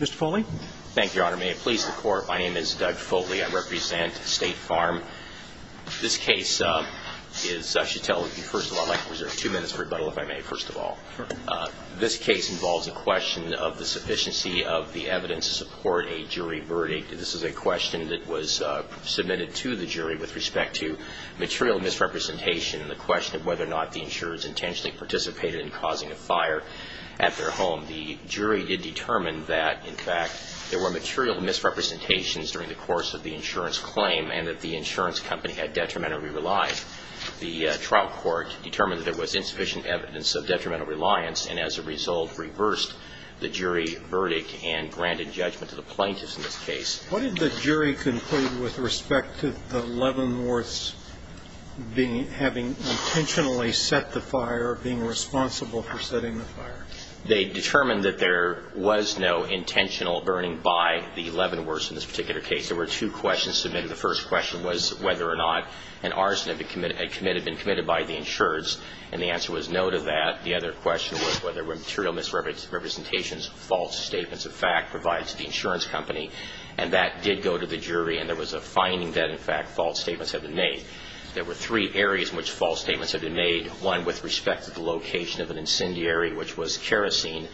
Mr. Foley. Thank you, Your Honor. May it please the Court, my name is Doug Foley. I represent State Farm. This case is, I should tell you, first of all, I'd like to reserve two minutes for rebuttal if I may, first of all. This case involves a question of the sufficiency of the evidence to support a jury verdict. This is a question that was submitted to the jury with respect to material misrepresentation and the question of whether or not the insurers intentionally participated in causing a fire at their home. The jury did determine that, in fact, there were material misrepresentations during the course of the insurance claim and that the insurance company had detrimentally relied. The trial court determined that there was insufficient evidence of detrimental reliance and, as a result, reversed the jury verdict and granted judgment to the plaintiffs in this case. What did the jury conclude with respect to the Leavenworths having intentionally set the fire, being responsible for setting the fire? They determined that there was no intentional burning by the Leavenworths in this particular case. There were two questions submitted. The first question was whether or not an arson had been committed by the insurers, and the answer was no to that. The other question was whether material misrepresentations, false statements of fact, provided to the insurance company. And that did go to the jury, and there was a finding that, in fact, false statements had been made. There were three areas in which false statements had been made, one with respect to the location of an incendiary, which was kerosene,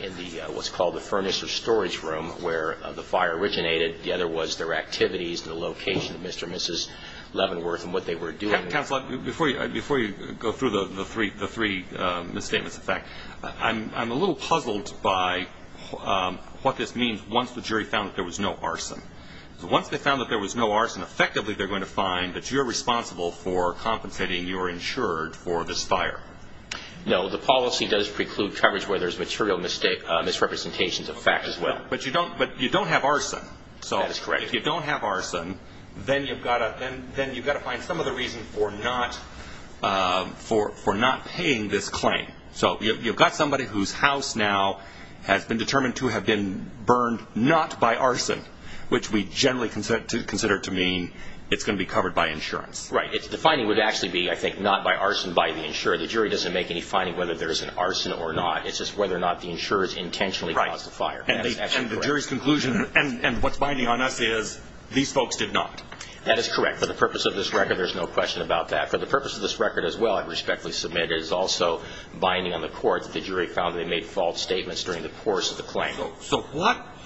in what's called the furnace or storage room where the fire originated. The other was their activities, the location of Mr. and Mrs. Leavenworth and what they were doing. Counsel, before you go through the three misstatements of fact, I'm a little puzzled by what this means once the jury found that there was no arson. Once they found that there was no arson, effectively they're going to find that you're responsible for compensating your insurer for this fire. No, the policy does preclude coverage where there's material misrepresentations of fact as well. But you don't have arson. That is correct. If you don't have arson, then you've got to find some other reason for not paying this claim. So you've got somebody whose house now has been determined to have been burned not by arson, which we generally consider to mean it's going to be covered by insurance. Right. The finding would actually be, I think, not by arson by the insurer. The jury doesn't make any finding whether there's an arson or not. It's just whether or not the insurer's intentionally caused the fire. And the jury's conclusion and what's binding on us is these folks did not. That is correct. For the purpose of this record, there's no question about that. For the purpose of this record as well, I respectfully submit it is also binding on the court that the jury found they made false statements during the course of the claim. So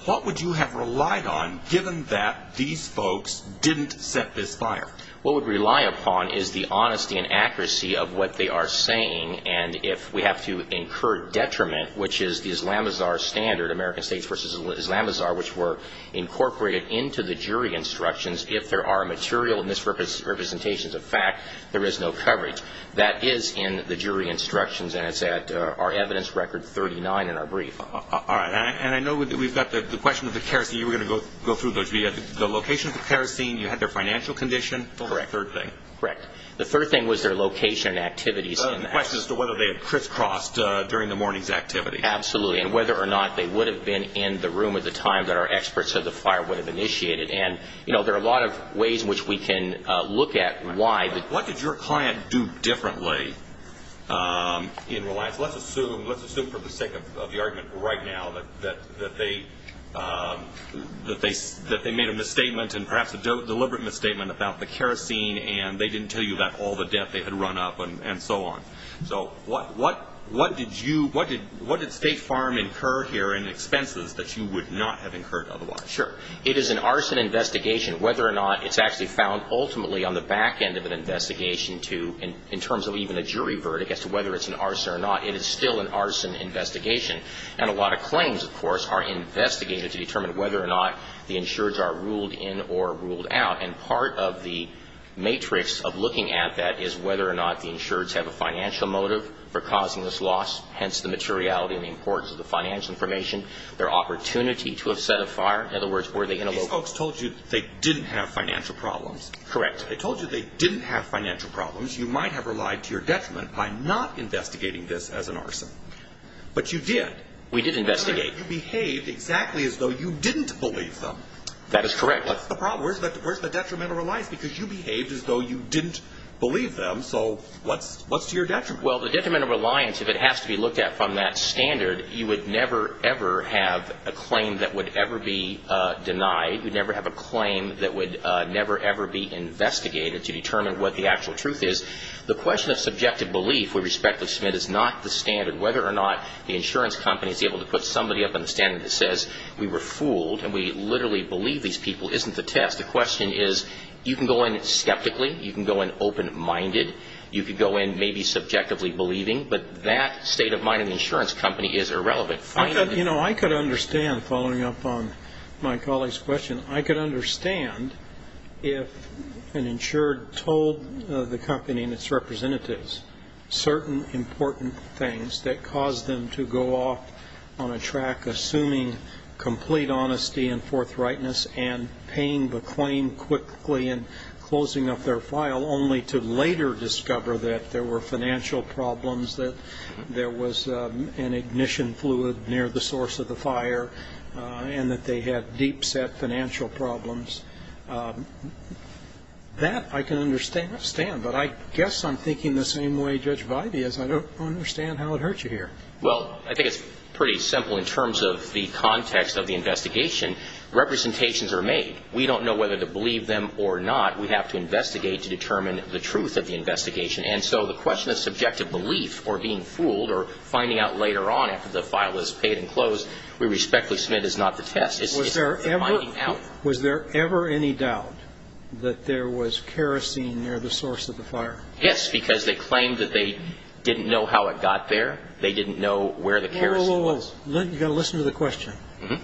what would you have relied on given that these folks didn't set this fire? What we'd rely upon is the honesty and accuracy of what they are saying. And if we have to incur detriment, which is the Islamazar standard, American States v. Islamazar, which were incorporated into the jury instructions, if there are material misrepresentations of fact, there is no coverage. That is in the jury instructions, and it's at our evidence record 39 in our brief. All right. And I know we've got the question of the kerosene. You were going to go through those. The location of the kerosene. You had their financial condition. Correct. Third thing. Correct. The third thing was their location and activities. The question is whether they had crisscrossed during the morning's activity. Absolutely. And whether or not they would have been in the room at the time that our experts said the fire would have initiated. And, you know, there are a lot of ways in which we can look at why. What did your client do differently in reliance? Let's assume for the sake of the argument right now that they made a misstatement and perhaps a deliberate misstatement about the kerosene, and they didn't tell you about all the debt they had run up and so on. So what did State Farm incur here in expenses that you would not have incurred otherwise? Sure. It is an arson investigation, whether or not it's actually found ultimately on the back end of an investigation in terms of even a jury verdict as to whether it's an arson or not. It is still an arson investigation. And a lot of claims, of course, are investigated to determine whether or not the insureds are ruled in or ruled out. And part of the matrix of looking at that is whether or not the insureds have a financial motive for causing this loss, hence the materiality and the importance of the financial information, their opportunity to have set a fire. In other words, were they in a location? These folks told you they didn't have financial problems. Correct. They told you they didn't have financial problems. You might have relied to your detriment by not investigating this as an arson. But you did. We did investigate. You behaved exactly as though you didn't believe them. That is correct. What's the problem? Where's the detrimental reliance? Because you behaved as though you didn't believe them, so what's to your detriment? Well, the detrimental reliance, if it has to be looked at from that standard, you would never, ever have a claim that would ever be denied. You would never have a claim that would never, ever be investigated to determine what the actual truth is. The question of subjective belief, we respectfully submit, is not the standard. Whether or not the insurance company is able to put somebody up on the standard that says we were fooled and we literally believe these people isn't the test. The question is you can go in skeptically. You can go in open-minded. You could go in maybe subjectively believing. But that state of mind in the insurance company is irrelevant. I could understand, following up on my colleague's question, I could understand if an insured told the company and its representatives certain important things that caused them to go off on a track assuming complete honesty and forthrightness and paying the claim quickly and closing up their file only to later discover that there were financial problems, that there was an ignition fluid near the source of the fire, and that they had deep-set financial problems. That I can understand. But I guess I'm thinking the same way Judge Videy is. I don't understand how it hurt you here. Well, I think it's pretty simple in terms of the context of the investigation. Representations are made. We don't know whether to believe them or not. We have to investigate to determine the truth of the investigation. And so the question of subjective belief or being fooled or finding out later on after the file is paid and closed, we respectfully submit it's not the test. It's finding out. Was there ever any doubt that there was kerosene near the source of the fire? Yes, because they claimed that they didn't know how it got there. They didn't know where the kerosene was. No, no, no. You've got to listen to the question. There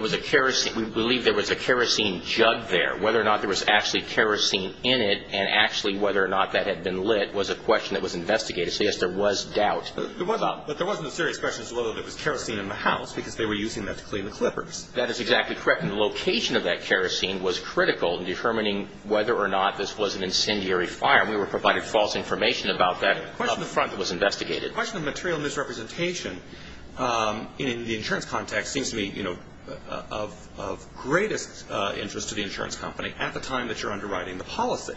was a kerosene. We believe there was a kerosene jug there. Whether or not there was actually kerosene in it and actually whether or not that had been lit was a question that was investigated. So, yes, there was doubt. But there wasn't a serious question as to whether there was kerosene in the house because they were using that to clean the clippers. That is exactly correct. And the location of that kerosene was critical in determining whether or not this was an incendiary fire. And we were provided false information about that up until it was investigated. The question of material misrepresentation in the insurance context seems to me, you know, of greatest interest to the insurance company at the time that you're underwriting the policy.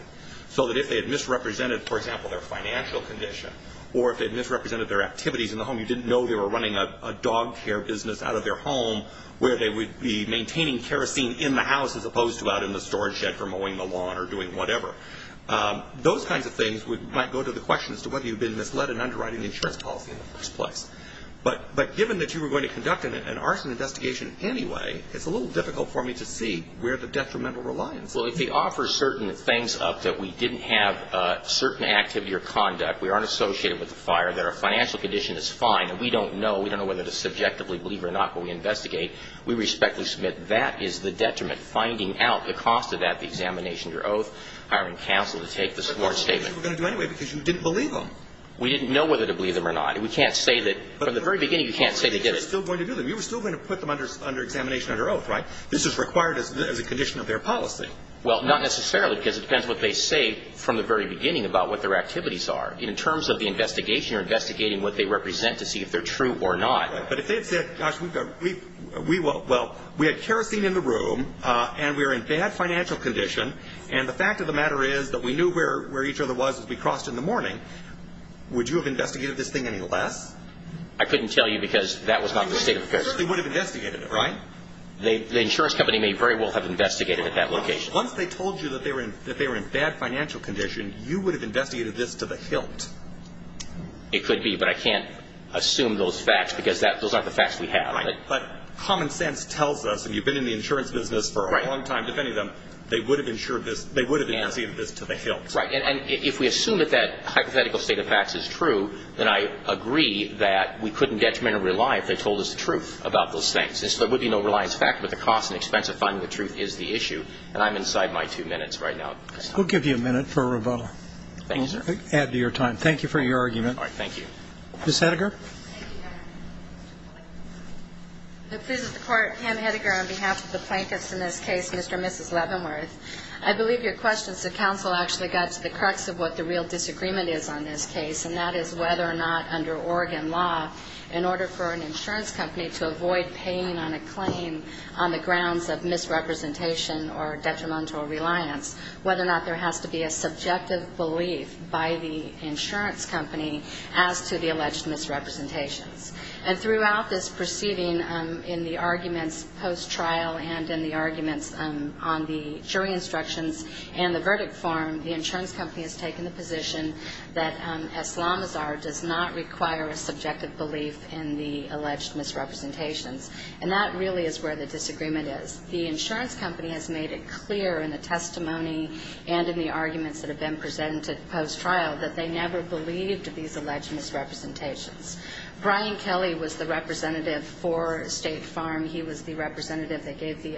So that if they had misrepresented, for example, their financial condition or if they had misrepresented their activities in the home, you didn't know they were running a dog care business out of their home where they would be maintaining kerosene in the house as opposed to out in the storage shed for mowing the lawn or doing whatever. Those kinds of things might go to the question as to whether you've been misled in underwriting the insurance policy in the first place. But given that you were going to conduct an arson investigation anyway, it's a little difficult for me to see where the detrimental reliance is. Well, if they offer certain things up that we didn't have certain activity or conduct, we aren't associated with the fire, that our financial condition is fine, and we don't know, we don't know whether to subjectively believe or not when we investigate, we respectfully submit that is the detriment. And finding out the cost of that, the examination, your oath, hiring counsel to take the support statement. Which we were going to do anyway because you didn't believe them. We didn't know whether to believe them or not. And we can't say that from the very beginning you can't say they did it. But you were still going to do them. You were still going to put them under examination under oath, right? This is required as a condition of their policy. Well, not necessarily because it depends what they say from the very beginning about what their activities are. In terms of the investigation, you're investigating what they represent to see if they're true or not. But if they said, gosh, we had kerosene in the room, and we were in bad financial condition, and the fact of the matter is that we knew where each other was as we crossed in the morning, would you have investigated this thing any less? I couldn't tell you because that was not the state of affairs. They would have investigated it, right? The insurance company may very well have investigated at that location. Once they told you that they were in bad financial condition, you would have investigated this to the hilt. It could be, but I can't assume those facts because those aren't the facts we have. Right. But common sense tells us, and you've been in the insurance business for a long time defending them, they would have insured this, they would have investigated this to the hilt. Right. And if we assume that that hypothetical state of facts is true, then I agree that we couldn't detriment or rely if they told us the truth about those things. And so there would be no reliance factor, but the cost and expense of finding the truth is the issue. And I'm inside my two minutes right now. We'll give you a minute for a rebuttal. Thank you, sir. Add to your time. Thank you for your argument. All right. Thank you. Ms. Hedegar? This is the Court. Pam Hedegar on behalf of the plaintiffs in this case, Mr. and Mrs. Leavenworth. I believe your question is that counsel actually got to the crux of what the real disagreement is on this case, and that is whether or not under Oregon law, in order for an insurance company to avoid paying on a claim on the grounds of misrepresentation or detrimental reliance, whether or not there has to be a subjective belief by the insurance company as to the alleged misrepresentations. And throughout this proceeding, in the arguments post-trial and in the arguments on the jury instructions and the verdict form, the insurance company has taken the position that Islamazar does not require a subjective belief in the alleged misrepresentations. And that really is where the disagreement is. The insurance company has made it clear in the testimony and in the arguments that have been presented post-trial that they never believed these alleged misrepresentations. Brian Kelly was the representative for State Farm. He was the representative. They gave the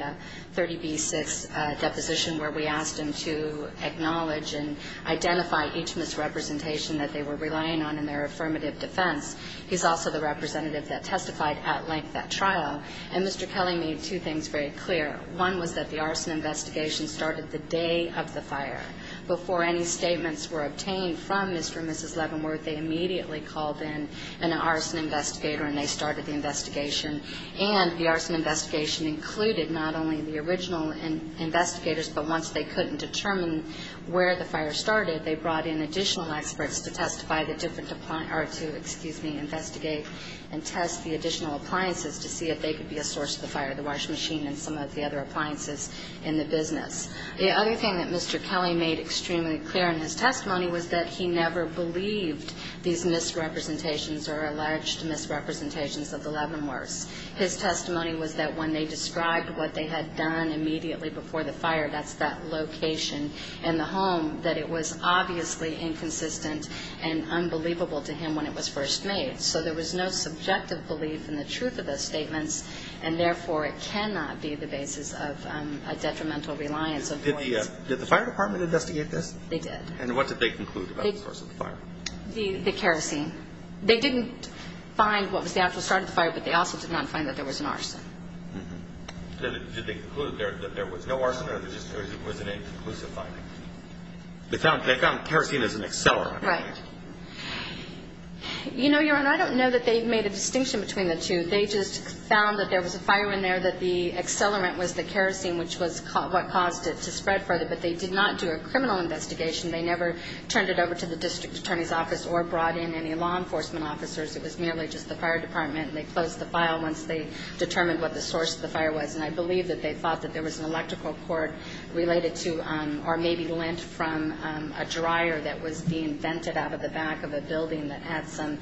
30B-6 deposition where we asked him to acknowledge and identify each misrepresentation that they were relying on in their affirmative defense. He's also the representative that testified at length at trial. And Mr. Kelly made two things very clear. One was that the arson investigation started the day of the fire. Before any statements were obtained from Mr. and Mrs. Leavenworth, they immediately called in an arson investigator and they started the investigation. And the arson investigation included not only the original investigators, but once they couldn't determine where the fire started, they brought in additional experts to testify the different or to, excuse me, investigate and test the additional appliances to see if they could be a source of the fire, the washing machine and some of the other appliances in the business. The other thing that Mr. Kelly made extremely clear in his testimony was that he never believed these misrepresentations or alleged misrepresentations of the Leavenworths. His testimony was that when they described what they had done immediately before the fire, that's that location in the home, that it was obviously inconsistent and unbelievable to him when it was first made. So there was no subjective belief in the truth of those statements, and therefore it cannot be the basis of a detrimental reliance of points. Did the fire department investigate this? They did. And what did they conclude about the source of the fire? The kerosene. They didn't find what was the actual start of the fire, but they also did not find that there was an arson. Did they conclude that there was no arson or that it was an inconclusive finding? They found kerosene as an accelerant. Right. You know, Your Honor, I don't know that they made a distinction between the two. They just found that there was a fire in there, that the accelerant was the kerosene, which was what caused it to spread further, but they did not do a criminal investigation. They never turned it over to the district attorney's office or brought in any law enforcement officers. It was merely just the fire department, and they closed the file once they determined what the source of the fire was, and I believe that they thought that there was an electrical cord related to or maybe lint from a dryer that was being vented out of the back of a building that had some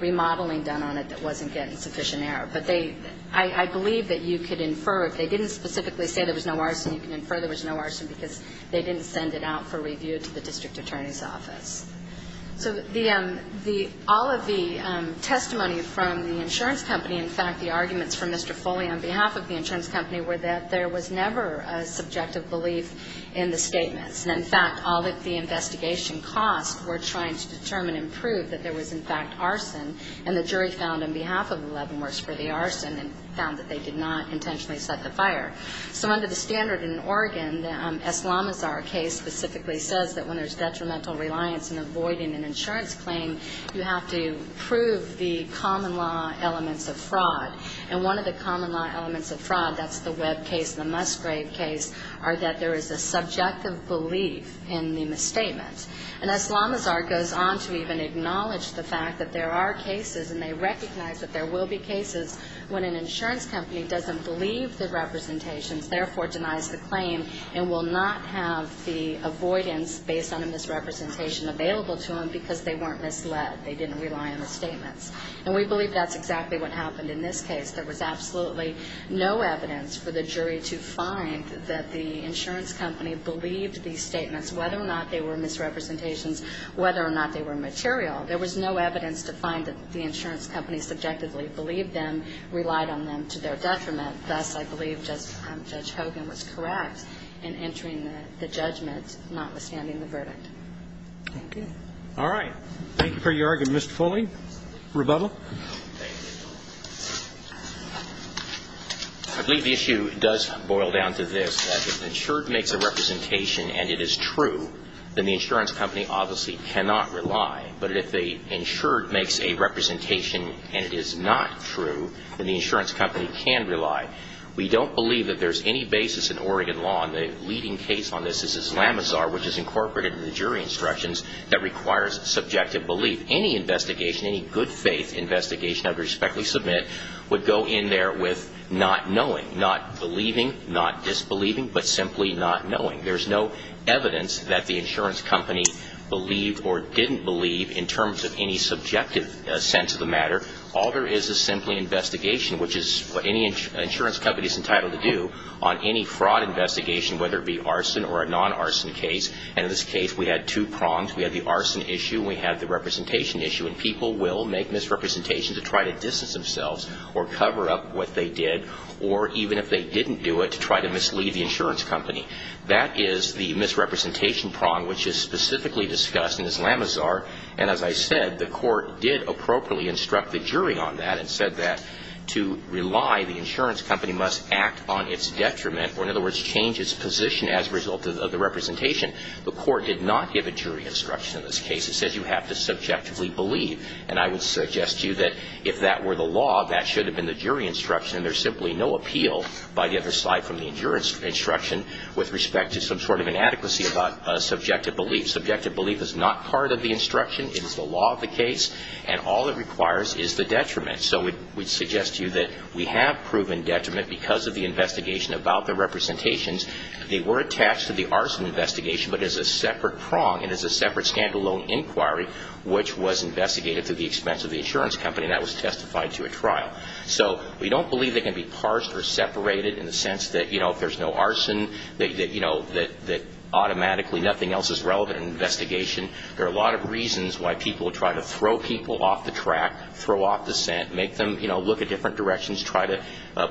remodeling done on it that wasn't getting sufficient air. But I believe that you could infer, if they didn't specifically say there was no arson, you can infer there was no arson because they didn't send it out for review to the district attorney's office. So all of the testimony from the insurance company, in fact, the arguments from Mr. Foley on behalf of the insurance company were that there was never a subjective belief in the statements. And, in fact, all of the investigation costs were trying to determine and prove that there was, in fact, arson, and the jury found on behalf of Leavenworth's for the arson and found that they did not intentionally set the fire. So under the standard in Oregon, the Eslamazar case specifically says that when there's detrimental reliance in avoiding an insurance claim, you have to prove the common law elements of fraud. And one of the common law elements of fraud, that's the Webb case and the Musgrave case, are that there is a subjective belief in the misstatements. And Eslamazar goes on to even acknowledge the fact that there are cases, and they recognize that there will be cases, when an insurance company doesn't believe the representations, therefore denies the claim, and will not have the avoidance based on a misrepresentation available to them because they weren't misled, they didn't rely on the statements. And we believe that's exactly what happened in this case. There was absolutely no evidence for the jury to find that the insurance company believed these statements, whether or not they were misrepresentations, whether or not they were material. There was no evidence to find that the insurance company subjectively believed them, relied on them to their detriment. And thus, I believe Judge Hogan was correct in entering the judgment, notwithstanding the verdict. Thank you. All right. Thank you for your argument. Mr. Foley, rebuttal. I believe the issue does boil down to this, that if the insured makes a representation and it is true, then the insurance company obviously cannot rely. But if the insured makes a representation and it is not true, then the insurance company can rely. We don't believe that there's any basis in Oregon law, and the leading case on this is Islamazar, which is incorporated in the jury instructions, that requires subjective belief. Any investigation, any good faith investigation I would respectfully submit, would go in there with not knowing, not believing, not disbelieving, but simply not knowing. There's no evidence that the insurance company believed or didn't believe in terms of any subjective sense of the matter. All there is is simply investigation, which is what any insurance company is entitled to do on any fraud investigation, whether it be arson or a non-arson case. And in this case, we had two prongs. We had the arson issue and we had the representation issue. And people will make misrepresentations to try to distance themselves or cover up what they did, or even if they didn't do it, to try to mislead the insurance company. That is the misrepresentation prong, which is specifically discussed in Islamazar. And as I said, the Court did appropriately instruct the jury on that and said that to rely, the insurance company must act on its detriment, or in other words, change its position as a result of the representation. The Court did not give a jury instruction in this case. It says you have to subjectively believe. And I would suggest to you that if that were the law, that should have been the jury instruction. There's simply no appeal by the other side from the insurance instruction with respect to some sort of inadequacy about subjective belief. Subjective belief is not part of the instruction. It is the law of the case. And all it requires is the detriment. So we'd suggest to you that we have proven detriment because of the investigation about the representations. They were attached to the arson investigation, but as a separate prong and as a separate stand-alone inquiry, which was investigated to the expense of the insurance company, and that was testified to a trial. So we don't believe they can be parsed or separated in the sense that, you know, if there's no arson, that, you know, that automatically nothing else is relevant in an investigation. There are a lot of reasons why people try to throw people off the track, throw off the scent, make them, you know, look at different directions, try to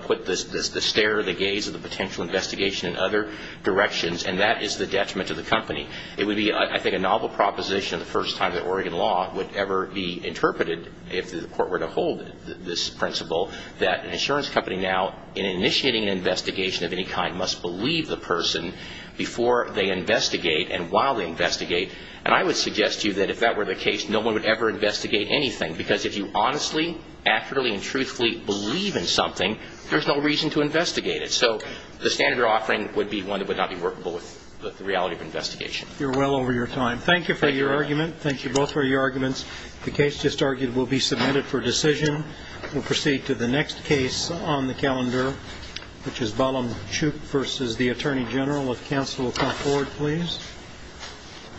put the stare, the gaze of the potential investigation in other directions, and that is the detriment to the company. It would be, I think, a novel proposition, the first time that Oregon law would ever be interpreted, if the Court were to hold this principle, that an insurance company now, in initiating an investigation of any kind, must believe the person before they investigate and while they investigate. And I would suggest to you that if that were the case, no one would ever investigate anything, because if you honestly, accurately, and truthfully believe in something, there's no reason to investigate it. So the standard we're offering would be one that would not be workable with the reality of investigation. You're well over your time. Thank you for your argument. Thank you both for your arguments. The case just argued will be submitted for decision. We'll proceed to the next case on the calendar, which is Balam-Chuk v. The Attorney General. If counsel will come forward, please.